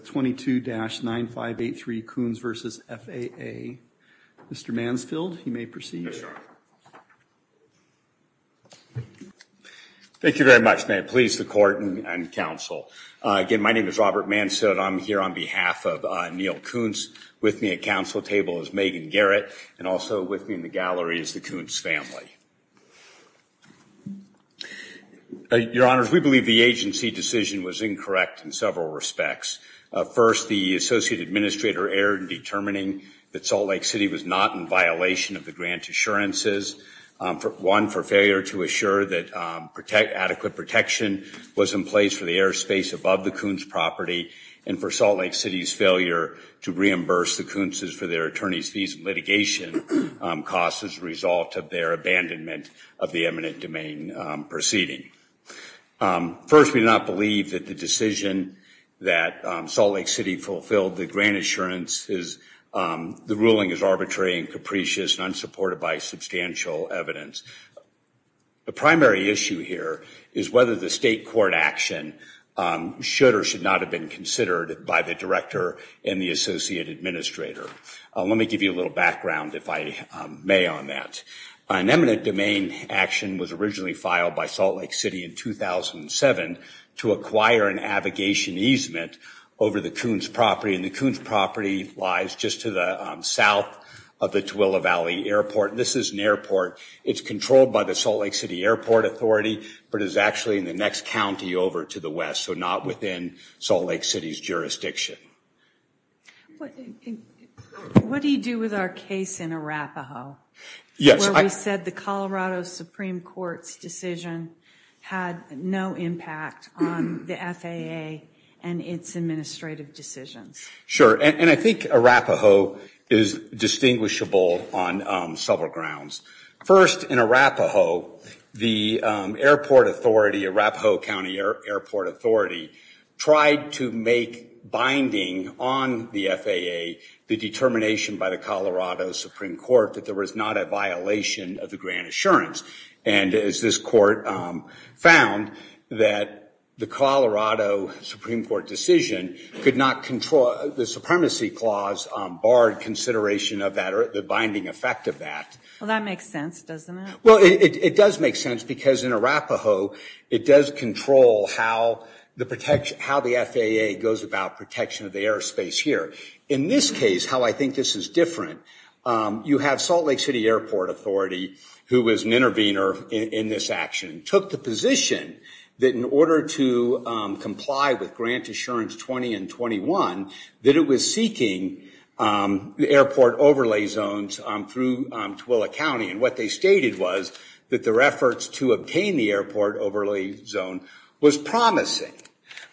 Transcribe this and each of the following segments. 22-9583 Kuntz v. FAA. Mr. Mansfield, you may proceed. Thank you very much. May it please the court and counsel. Again, my name is Robert Mansfield. I'm here on behalf of Neil Kuntz. With me at counsel table is Megan Garrett and also with me in the gallery is the Kuntz family. Your Honors, we believe the agency decision was incorrect in several respects. First, the Associate Administrator erred in determining that Salt Lake City was not in violation of the grant assurances. One, for failure to assure that adequate protection was in place for the airspace above the Kuntz property and for Salt Lake City's failure to reimburse the Kuntz's for their attorneys fees litigation costs as a result of their abandonment of the eminent domain proceeding. First, we do not believe that the decision that Salt Lake City fulfilled the grant assurance is the ruling is arbitrary and capricious and unsupported by substantial evidence. The primary issue here is whether the state court action should or should not have been considered by the Director and the Associate Administrator. Let me give you a little background if I may on that. An eminent domain action was originally filed by Salt Lake City in 2007 to acquire an avigation easement over the Kuntz property and the Kuntz property lies just to the south of the Tooele Valley Airport. This is an airport. It's controlled by the Salt Lake City Airport Authority but is actually in the next county over to the west so not within Salt Lake City's jurisdiction. What do you do with our case in Arapaho? Yes. I said the Colorado Supreme Court's decision had no impact on the FAA and its administrative decisions. Sure and I think Arapaho is distinguishable on several grounds. First, in Arapaho the Airport Authority, Arapaho County Airport Authority tried to make binding on the FAA the determination by the FAA that there was not a violation of the grant assurance and as this court found that the Colorado Supreme Court decision could not control the supremacy clause barred consideration of that or the binding effect of that. Well that makes sense doesn't it? Well it does make sense because in Arapaho it does control how the protection, how the FAA goes about protection of the airspace here. In this case, how I think this is different, you have Salt Lake City Airport Authority who was an intervener in this action took the position that in order to comply with Grant Assurance 20 and 21 that it was seeking the airport overlay zones through Tooele County and what they stated was that their efforts to obtain the airport overlay zone was promising.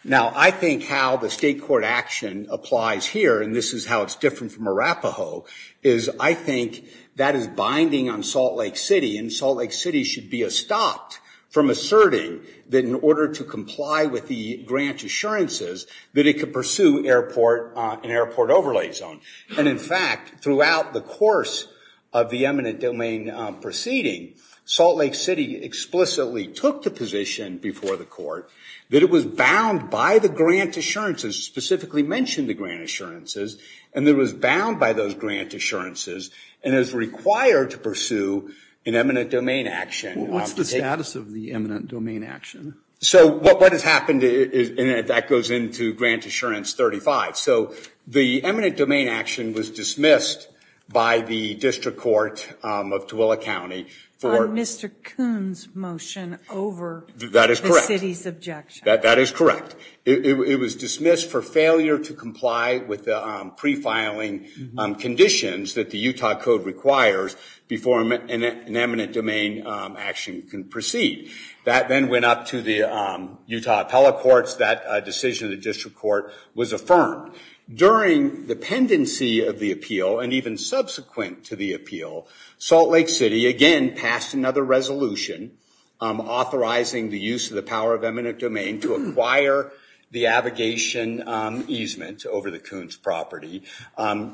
Now I think how the state action applies here and this is how it's different from Arapaho is I think that is binding on Salt Lake City and Salt Lake City should be a stopped from asserting that in order to comply with the grant assurances that it could pursue airport an airport overlay zone and in fact throughout the course of the eminent domain proceeding Salt Lake City explicitly took the position before the court that it was bound by the grant assurances specifically mentioned the grant assurances and there was bound by those grant assurances and is required to pursue an eminent domain action. What's the status of the eminent domain action? So what has happened is and that goes into Grant Assurance 35 so the eminent domain action was dismissed by the District Court of Tooele County for Mr. Kuhn's motion over the city's objection. That is correct. It was dismissed for failure to comply with the pre-filing conditions that the Utah Code requires before an eminent domain action can proceed. That then went up to the Utah Appellate Courts that a decision of the District Court was affirmed. During the pendency of the appeal and even subsequent to the appeal Salt Lake City again passed another resolution authorizing the use of the power of eminent domain to acquire the abrogation easement over the Kuhn's property.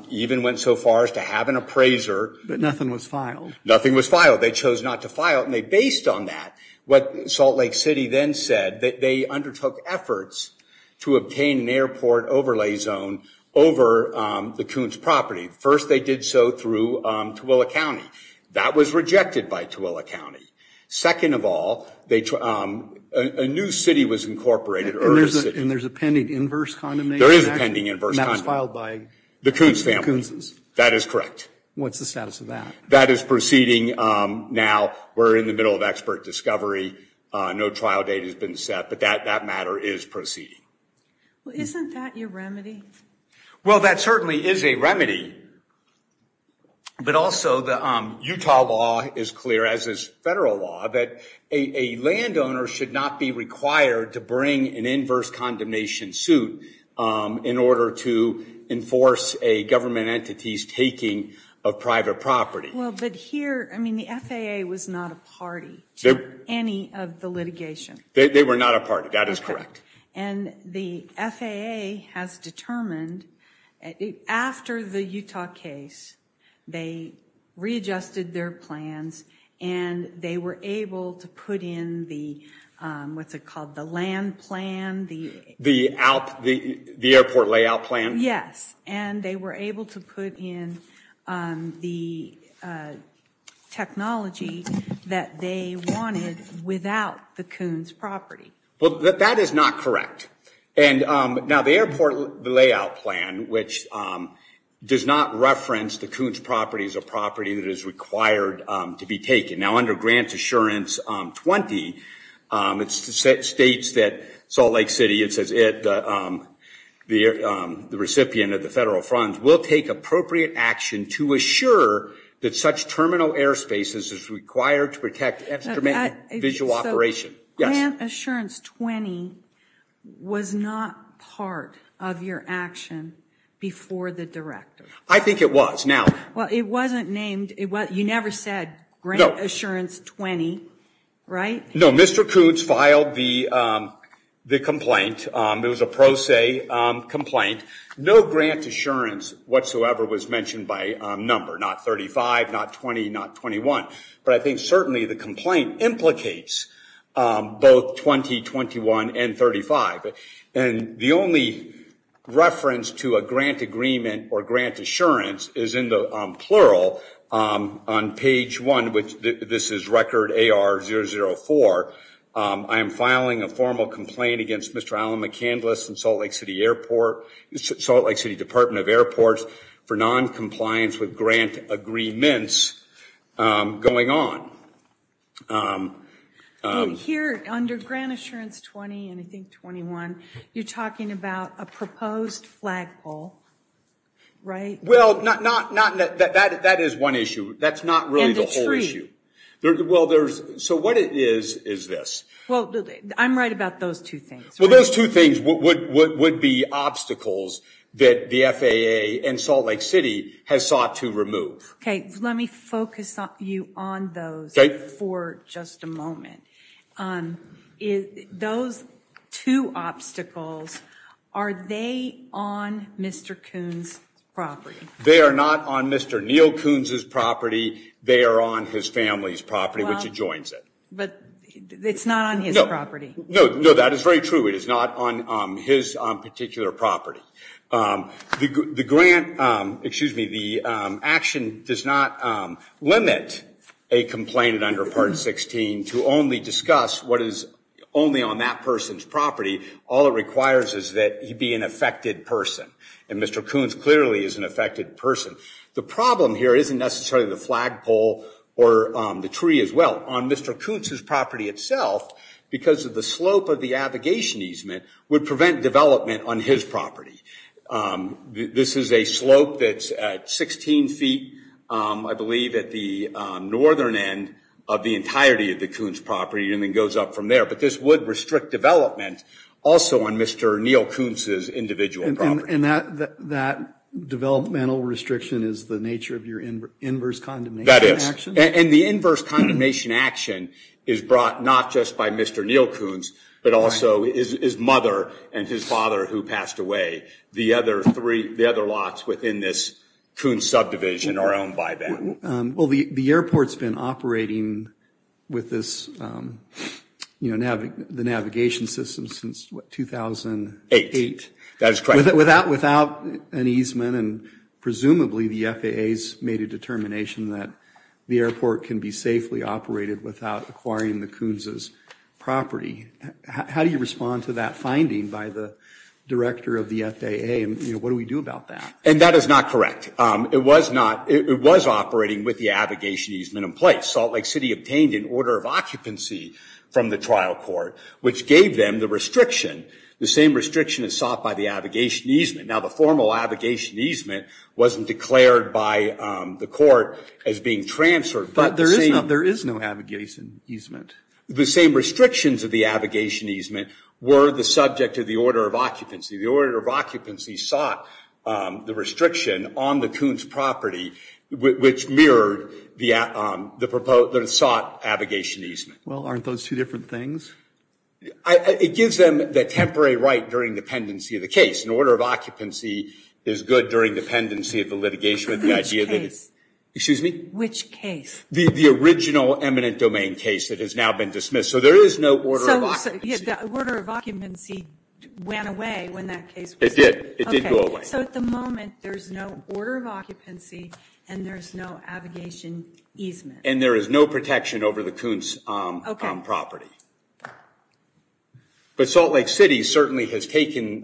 Even went so far as to have an appraiser. But nothing was filed. Nothing was filed. They chose not to file and they based on that what Salt Lake City then said that they undertook efforts to obtain an airport overlay zone over the Kuhn's property. First they did so through Tooele County. That was rejected by Tooele County. Second of all, a new city was incorporated. And there's a pending inverse condemnation? There is a pending inverse condemnation. And that was filed by the Kuhn's family? That is correct. What's the status of that? That is proceeding now. We're in the middle of expert discovery. No trial date has been set but that that matter is proceeding. Well isn't that your remedy? Well that certainly is a remedy but also the Utah law is clear as is federal law that a landowner should not be required to bring an inverse condemnation suit in order to enforce a government entity's taking of private property. Well but here I mean the FAA was not a party to any of the litigation. They were not a party, that is correct. And the FAA has determined after the Utah case they readjusted their plans and they were able to put in the what's it called the land plan? The airport layout plan? Yes and they were able to put in the technology that they wanted without the Kuhn's property. Well that is not correct. And now the airport layout plan which does not reference the Kuhn's property as a property that is required to be taken. Now under Grant Assurance 20 it states that Salt Lake City, it says it, the recipient of the federal funds will take appropriate action to assure that such terminal airspaces is required to protect visual operation. Grant Assurance 20 was not part of your action before the director. I think it was now. Well it wasn't named it what you never said Grant Assurance 20 right? No Mr. Kuhn's filed the the complaint there was a pro se complaint. No grant assurance whatsoever was mentioned by number not 35, not 20, not 21. But I think certainly the complaint implicates both 20, 21, and 35. And the only reference to a grant agreement or grant assurance is in the plural on page 1 which this is record AR 004. I am filing a formal complaint against Mr. Allen McCandless and Salt Lake City Airport, Salt Lake City agreements going on. Here under Grant Assurance 20 and I think 21 you're talking about a proposed flagpole right? Well not not not that that that is one issue that's not really the whole issue. Well there's so what it is is this. Well I'm right about those two things. Well those two things would would be obstacles that the FAA and Salt Lake City has sought to remove. Okay let me focus on you on those for just a moment. Those two obstacles are they on Mr. Kuhn's property? They are not on Mr. Neal Kuhn's property they are on his family's property which adjoins it. But it's not on his property? No no that is very true it is not on his particular property. The grant excuse me the action does not limit a complaint under part 16 to only discuss what is only on that person's property. All it requires is that he be an affected person and Mr. Kuhn's clearly is an affected person. The problem here isn't necessarily the flagpole or the tree as well. On Mr. Kuhn's property itself because of the slope of the abrogation easement would prevent development on his property. This is a slope that's 16 feet I believe at the northern end of the entirety of the Kuhn's property and then goes up from there. But this would restrict development also on Mr. Neal Kuhn's individual property. And that that developmental restriction is the nature of your inverse condemnation action? That is and the inverse condemnation action is brought not just by Mr. Neal Kuhn's but also his mother and his father who passed away. The other three the other lots within this Kuhn's subdivision are owned by them. Well the the airport's been operating with this you know navigate the navigation system since what 2008? That is correct. Without without an easement and presumably the FAA's made a determination that the airport can be safely operated without acquiring the Kuhn's property. How do you respond to that finding by the director of the FAA and you know what do we do about that? And that is not correct. It was not it was operating with the abrogation easement in place. Salt Lake City obtained an order of occupancy from the trial court which gave them the restriction. The same restriction is sought by the abrogation easement. Now the formal abrogation easement wasn't declared by the court as being transferred. But there is no there is no abrogation easement. The same restrictions of the abrogation easement were the subject of the order of occupancy. The order of occupancy sought the restriction on the Kuhn's property which mirrored the proposed that sought abrogation easement. Well aren't those two different things? It gives them the temporary right during dependency of the case. An order of occupancy is good during dependency of litigation. Which case? The original eminent domain case that has now been dismissed. So there is no order of occupancy. So the order of occupancy went away when that case was? It did. So at the moment there's no order of occupancy and there's no abrogation easement. And there is no protection over the Kuhn's property. But Salt Lake City certainly has taken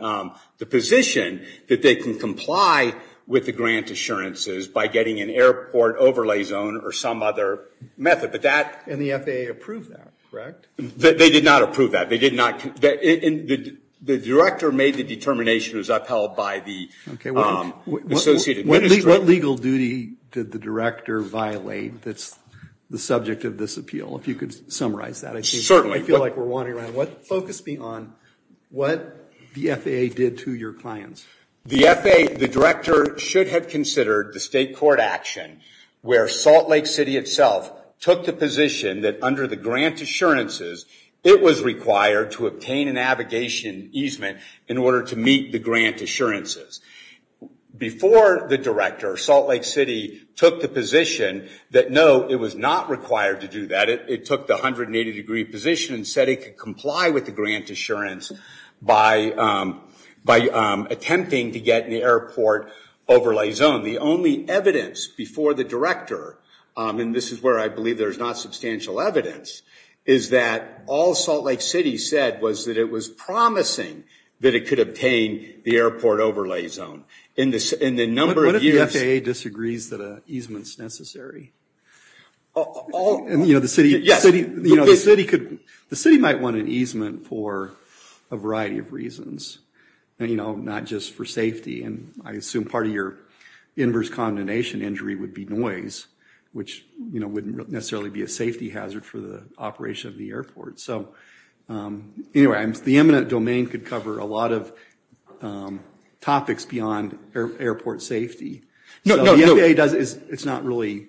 the position that they can comply with the grant assurances by getting an airport overlay zone or some other method. But that. And the FAA approved that, correct? They did not approve that. They did not. The director made the determination was upheld by the associate administrator. What legal duty did the director violate that's the subject of this appeal? If you could summarize that. Certainly. I feel like we're wandering around. Focus me on what the FAA did to your clients. The FAA, the director should have considered the state court action where Salt Lake City itself took the position that under the grant assurances it was required to obtain an abrogation easement in order to meet the grant assurances. Before the director, Salt Lake City took the position that no, it was not required to do that. It took the 180 degree position and said it could comply with the grant assurance by attempting to get an airport overlay zone. The only evidence before the director, and this is where I believe there's not substantial evidence, is that all Salt Lake City said was that it was promising that it could obtain the airport overlay zone. In the number of years. What if the FAA disagrees that an easement is necessary? The city might want an easement for a variety of reasons. Not just for safety. I assume part of your inverse condenation injury would be noise, which wouldn't necessarily be a safety hazard for the operation of the airport. The eminent domain could cover a lot of topics beyond airport safety. It's not really,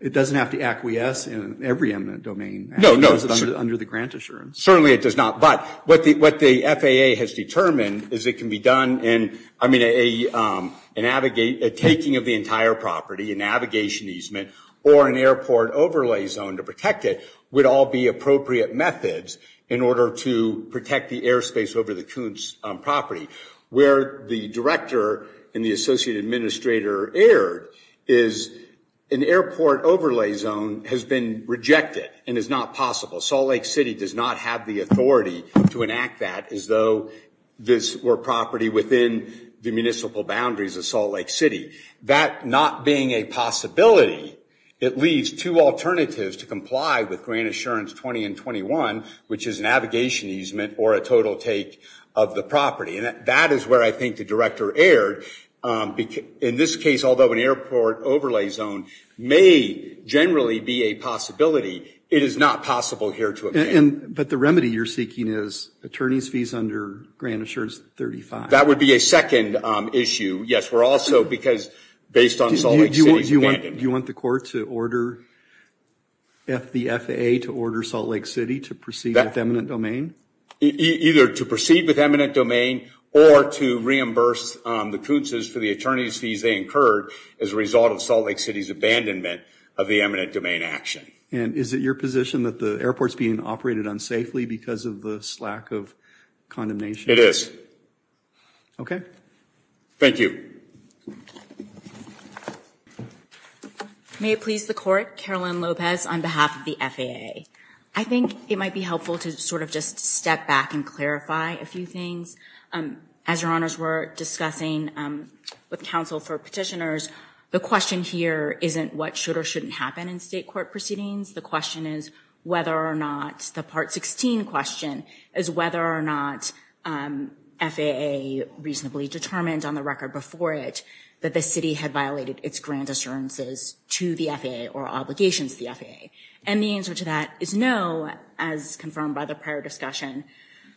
it doesn't have to acquiesce in every eminent domain. No, no. Under the grant assurance. Certainly it does not, but what the FAA has determined is it can be done in, I mean, a taking of the entire property, a navigation easement, or an airport overlay zone to protect it would all be appropriate methods in order to protect the airspace over the Coons property. Where the director and the associate administrator erred is an airport overlay zone has been rejected and is not possible. Salt Lake City does not have the authority to enact that as though this were property within the municipal boundaries of Salt Lake City. That not being a possibility, it leaves two alternatives to comply with grant assurance 20 and 21, which is navigation easement or a total take of the property. That is where I think the director erred. In this case, although an airport overlay zone may generally be a possibility, it is not possible here to amend. But the remedy you're seeking is attorney's fees under grant assurance 35. That would be a second issue. Yes, we're also, because based on Salt Lake City's abandonment. Do you want the court to order the FAA to order Salt Lake City to proceed with eminent domain? Either to proceed with eminent domain or to reimburse the Coons for the attorney's fees they incurred as a result of Salt Lake City's abandonment of the eminent domain action. And is it your position that the airport's being operated unsafely because of the slack of condemnation? It is. Okay. Thank you. May it please the court, Caroline Lopez on behalf of the FAA. I think it might be helpful to sort of just step back and clarify a few things. As your honors were discussing with counsel for petitioners, the question here isn't what should or shouldn't happen in state court proceedings. The question is whether or not the part 16 question is whether or not FAA reasonably determined on the record before it that the city had violated its grant assurances to the FAA or obligations to the FAA. And the answer to that is no, as confirmed by the prior discussion.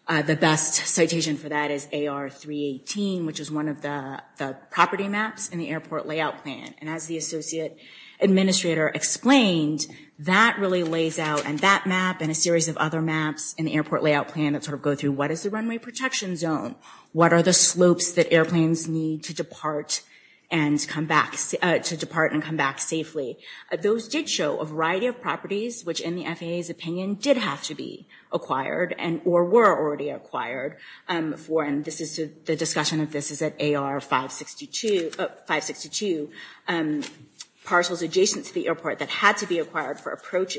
The best citation for that is AR 318, which is one of the property maps in the airport layout plan. And as the associate administrator explained, that really lays out and that map and a series of other maps in the airport layout plan that sort of go through what is the runway protection zone? What are the slopes that airplanes need to depart and come back safely? Those did show a variety of properties, which in the FAA's opinion did have to be acquired and or were already acquired for. And this is the discussion of this is that AR 562 parcels adjacent to the airport that had to be acquired for approach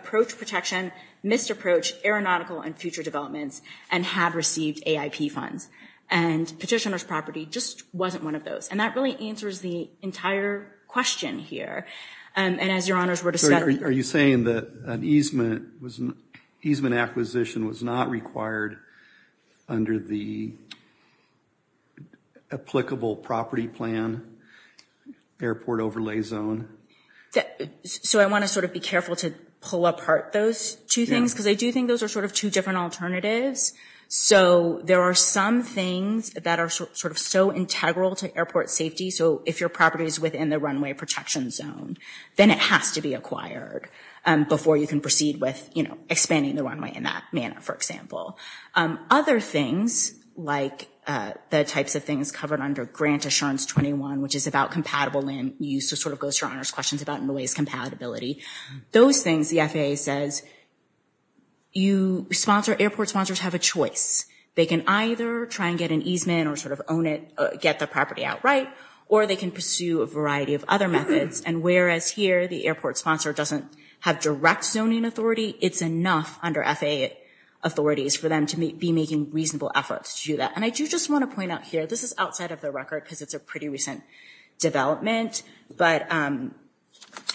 protection, missed approach, aeronautical and future developments and have received AIP funds. And petitioner's property just wasn't one of those. And that really answers the entire question here. And as your honors were discussing. Are you saying that an easement acquisition was not required under the applicable property plan airport overlay zone? So I want to sort of be careful to pull apart those two things, because I do think those are sort of two different alternatives. So there are some things that are sort of so integral to airport safety. So if your property is within the runway protection zone, then it has to be acquired before you can proceed with expanding the runway in that manner, for example. Other things like the types of things covered under Grant Assurance 21, which is about compatible land use to sort of go to your honors questions about noise compatibility. Those things the FAA says you sponsor airport sponsors have a choice. They can either try and get an easement or sort of own it, get the property outright, or they can pursue a variety of other methods. And whereas here, the airport sponsor doesn't have direct zoning authority. It's enough under FAA authorities for them to be making reasonable efforts to do that. And I do just want to point out here, this is outside of the record because it's a pretty recent development. But, and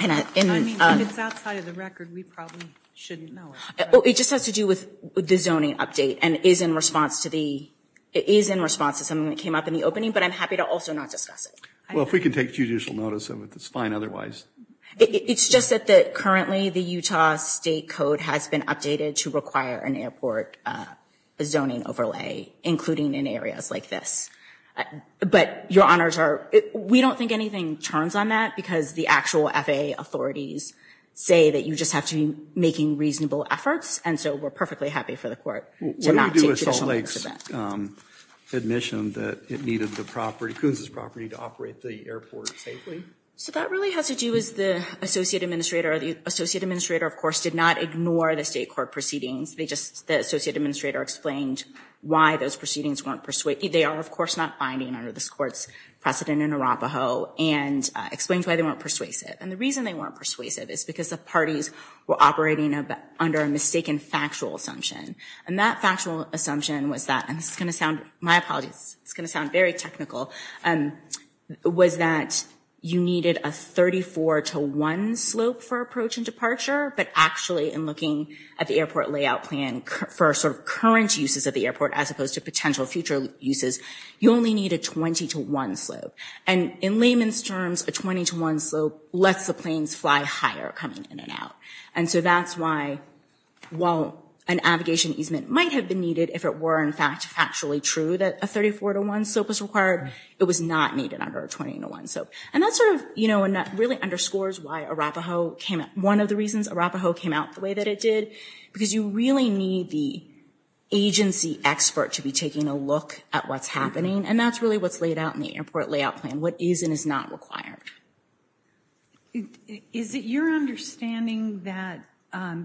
I, and, I mean, if it's outside of the record, we probably shouldn't know it. It just has to do with the zoning update and is in response to the, it is in response to something that came up in the opening, but I'm happy to also not discuss it. Well, if we can take judicial notice of it, it's fine otherwise. It's just that currently the Utah state code has been updated to require an airport zoning overlay, including in areas like this. But your honors are, we don't think anything turns on that because the actual FAA authorities say that you just have to be making reasonable efforts. And so we're perfectly happy for the court to not take judicial notice of that. What do we do with Salt Lake's admission that it needed the property, Kunz's property, to operate the airport safely? So that really has to do with the associate administrator. The associate administrator, of course, did not ignore the state court proceedings. They just, the associate administrator explained why those proceedings weren't persuaded. They are, of course, not binding under this court's precedent in Arapaho and explained why they weren't persuasive. And the reason they weren't persuasive is because the parties were operating under a mistaken factual assumption. And that factual assumption was that, and this is going to sound, my apologies, it's going to sound very technical, was that you needed a 34 to 1 slope for approach and departure, but actually in looking at the airport layout plan for sort of current uses of the airport as opposed to potential future uses, you only need a 20 to 1 slope. And in layman's terms, a 20 to 1 slope lets the planes fly higher coming in and out. And so that's why, while an navigation easement might have been needed if it were, in fact, factually true that a 34 to 1 slope was required, it was not needed under a 20 to 1 slope. And that sort of, you know, really underscores why Arapaho came up. One of the reasons Arapaho came out the way that it did, because you really need the agency expert to be taking a look at what's happening. And that's really what's laid out in the airport layout plan, what is and is not required. Is it your understanding that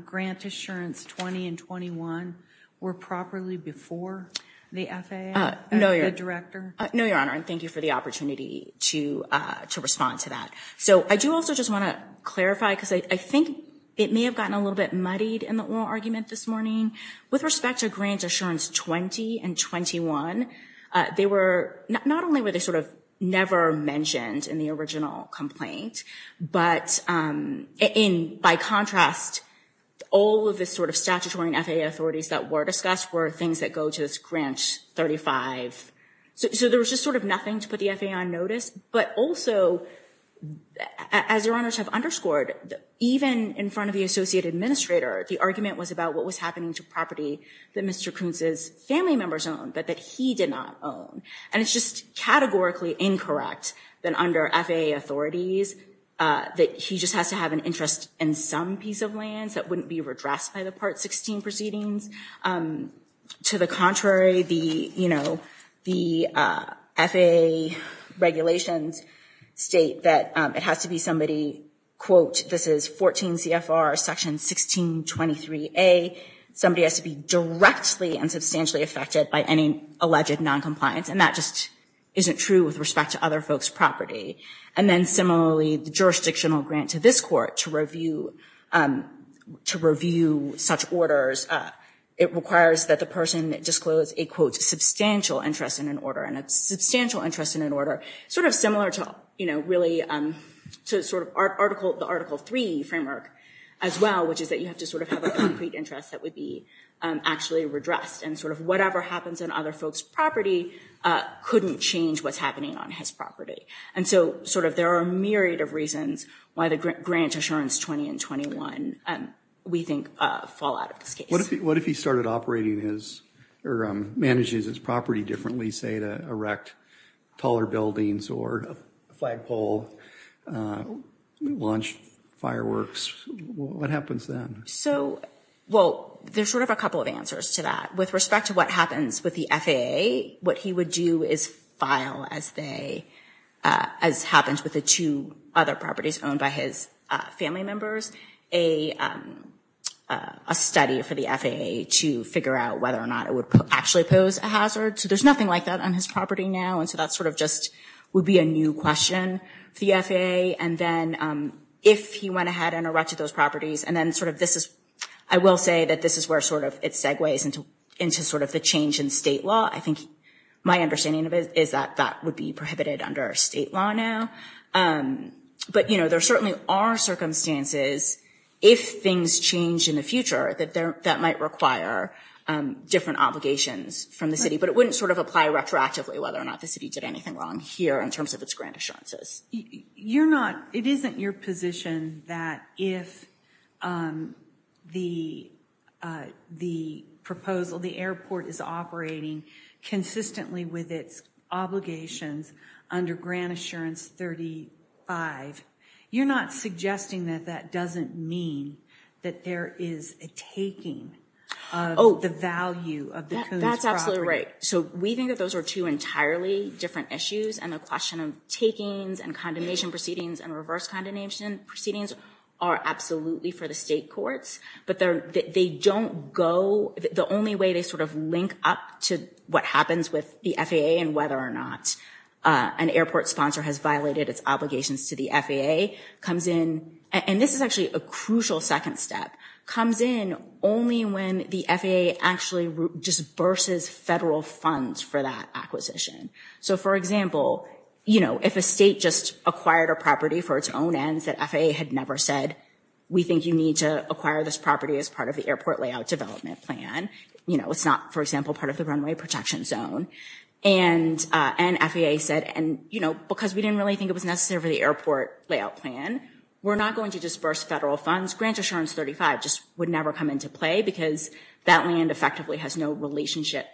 grant assurance 20 and 21 were properly before the FAA, the director? No, Your Honor, and thank you for the opportunity to respond to that. So I do also just want to clarify, because I think it may have gotten a little bit muddied in the oral argument this morning. With respect to grant assurance 20 and 21, they were not only were they sort of never mentioned in the original complaint, but in by contrast, all of this sort of statutory and FAA authorities that were discussed were things that go to this grant 35. So there was just sort of nothing to put the FAA on notice. But also, as Your Honors have underscored, even in front of the associate administrator, the argument was about what was happening to property that Mr. Kuntz's family members owned, but that he did not own. And it's just categorically incorrect that under FAA authorities, that he just has to have an interest in some piece of lands that wouldn't be redressed by the Part 16 proceedings. To the contrary, the FAA regulations state that it has to be somebody, quote, this is 14 CFR section 1623A. Somebody has to be directly and substantially affected by any alleged noncompliance. And that just isn't true with respect to other folks' property. And then similarly, the jurisdictional grant to this court to review such orders, it requires that the person disclose a, quote, substantial interest in an order. And a substantial interest in an order, sort of similar to, you know, really to sort of the Article 3 framework as well, which is that you have to sort of have a concrete interest that would be actually redressed. And sort of whatever happens in other folks' property couldn't change what's happening on his property. And so, sort of, there are a myriad of reasons why the Grant Assurance 20 and 21, we think, fall out of this case. What if he started operating his, or manages his property differently, say, to erect taller buildings or flagpole, launch fireworks, what happens then? So, well, there's sort of a couple of answers to that. With respect to what happens with the FAA, what he would do is file, as they, as happens with the two other properties owned by his family members, a study for the FAA to figure out whether or not it would actually pose a hazard. So there's nothing like that on his property now. And so that sort of just would be a new question for the FAA. And then if he went ahead and erected those properties, and then sort of this is, I will say that this is where sort of it segues into sort of the change in state law. I think my understanding of it is that that would be prohibited under state law now. But, you know, there certainly are circumstances, if things change in the future, that might require different obligations from the city. But it wouldn't sort of apply retroactively, whether or not the city did anything wrong here in terms of its grant assurances. You're not, it isn't your position that if the proposal, the airport is operating consistently with its obligations under Grant Assurance 35, you're not suggesting that that doesn't mean that there is a taking of the value of the Coon's property? That's absolutely right. So we think that those are two entirely different issues. And the question of takings and condemnation proceedings and reverse condemnation proceedings are absolutely for the state courts. But they don't go, the only way they sort of link up to what happens with the FAA and whether or not an airport sponsor has violated its obligations to the FAA comes in. And this is actually a crucial second step, comes in only when the FAA actually disburses federal funds for that acquisition. So, for example, you know, if a state just acquired a property for its own ends that FAA had never said, we think you need to acquire this property as part of the airport layout development plan. You know, it's not, for example, part of the runway protection zone. And FAA said, and, you know, because we didn't really think it was necessary for the airport layout plan, we're not going to disburse federal funds. Grant Assurance 35 just would never come into play because that land effectively has no relationship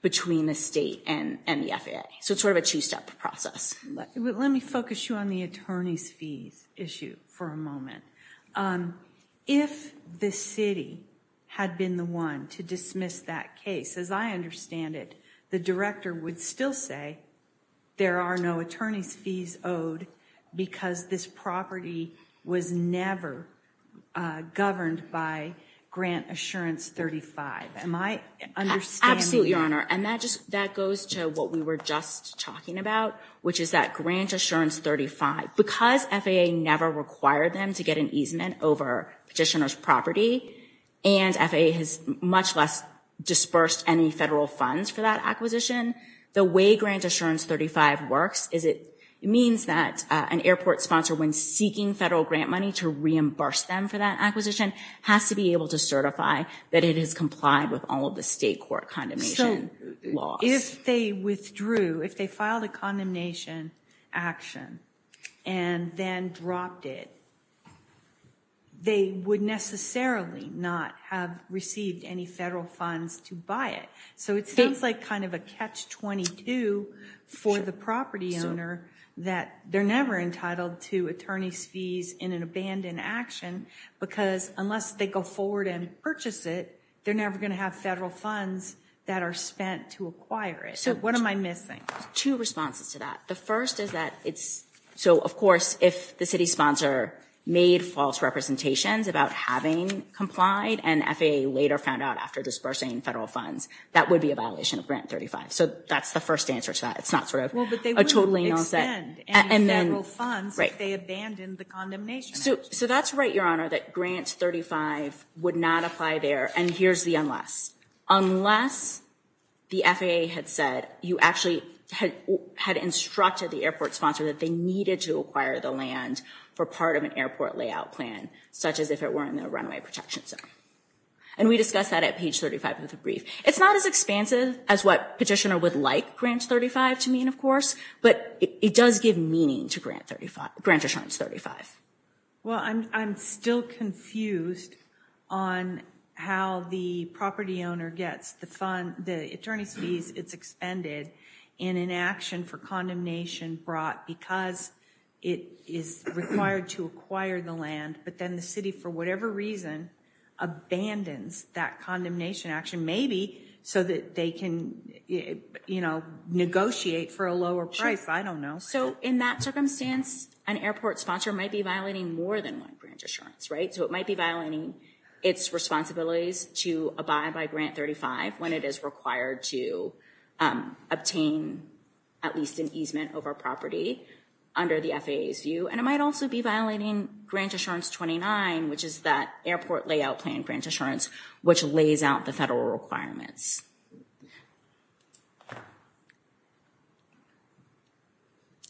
between the state and the FAA. So it's sort of a two-step process. Let me focus you on the attorney's fees issue for a moment. If the city had been the one to dismiss that case, as I understand it, the director would still say there are no attorney's fees owed because this property was never governed by Grant Assurance 35. Am I understanding? Absolutely, Your Honor. And that just, that goes to what we were just talking about, which is that Grant Assurance 35, because FAA never required them to get an easement over petitioner's property, and FAA has much less disbursed any federal funds for that acquisition, the way Grant Assurance 35 works is it means that an airport sponsor, when seeking federal grant money to reimburse them for that acquisition, has to be able to certify that it has complied with all of the state court condemnation laws. If they withdrew, if they filed a condemnation action and then dropped it, they would necessarily not have received any federal funds to buy it. So it seems like kind of a catch-22 for the property owner that they're never entitled to attorney's fees in an abandoned action because unless they go forward and purchase it, they're never going to have federal funds that are spent to acquire it. So what am I missing? Two responses to that. The first is that it's, so of course, if the city sponsor made false representations about having complied and FAA later found out after disbursing federal funds, that would be a violation of Grant 35. So that's the first answer to that. It's not sort of a totally null set. And federal funds if they abandoned the condemnation action. So that's right, Your Honor, that Grant 35 would not apply there. And here's the unless. Unless the FAA had said, you actually had instructed the airport sponsor that they needed to acquire the land for part of an airport layout plan, such as if it were in the runway protection zone. And we discussed that at page 35 of the brief. It's not as expansive as what petitioner would like Grant 35 to mean, of course, but it does give meaning to Grant 35, Grant Assurance 35. Well, I'm still confused on how the property owner gets the fund, the attorney's fees it's expended in an action for condemnation brought because it is required to acquire the land. But then the city, for whatever reason, abandons that condemnation action, maybe so that they can negotiate for a lower price. I don't know. So in that circumstance, an airport sponsor might be violating more than one Grant Assurance, right? So it might be violating its responsibilities to abide by Grant 35 when it is required to obtain at least an easement over property under the FAA's view. And it might also be violating Grant Assurance 29, which is that airport layout plan Grant Assurance, which lays out the federal requirements.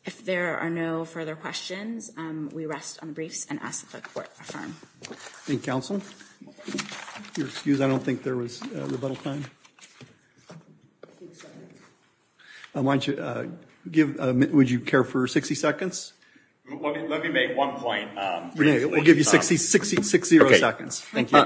If there are no further questions, we rest on the briefs and ask that the court affirm. Thank you, counsel. If you'll excuse, I don't think there was rebuttal time. Why don't you give, would you care for 60 seconds? Let me make one point. Renee, we'll give you 60 seconds. Thank you.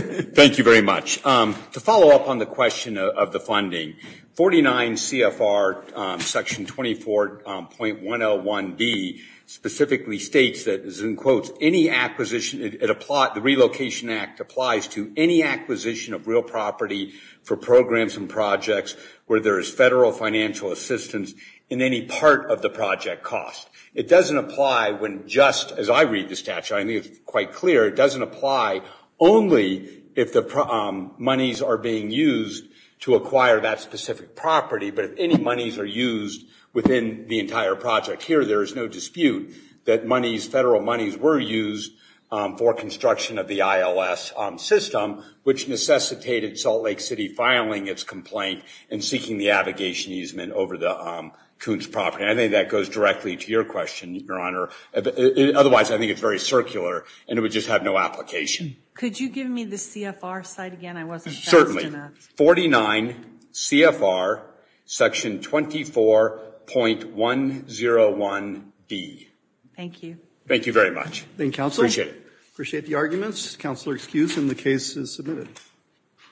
Thank you very much. To follow up on the question of the funding, 49 CFR section 24.101B specifically states that as in quotes, any acquisition, it applies, the Relocation Act applies to any acquisition of real property for programs and projects where there is federal financial assistance in any part of the project cost. It doesn't apply when just, as I read the statute, I think it's quite clear, it doesn't apply only if the monies are being used to acquire that specific property, but if any monies are used within the entire project. Here, there is no dispute that monies, federal monies were used for construction of the ILS system, which necessitated Salt Lake City filing its complaint and seeking the abrogation easement over the Koontz property. I think that goes directly to your question, Your Honor. Otherwise, I think it's very circular and it would just have no application. Could you give me the CFR side again? I wasn't sure. 49 CFR section 24.101B. Thank you. Thank you very much. Thank you, Counselor. Appreciate it. Appreciate the arguments. Counselor excused and the case is submitted.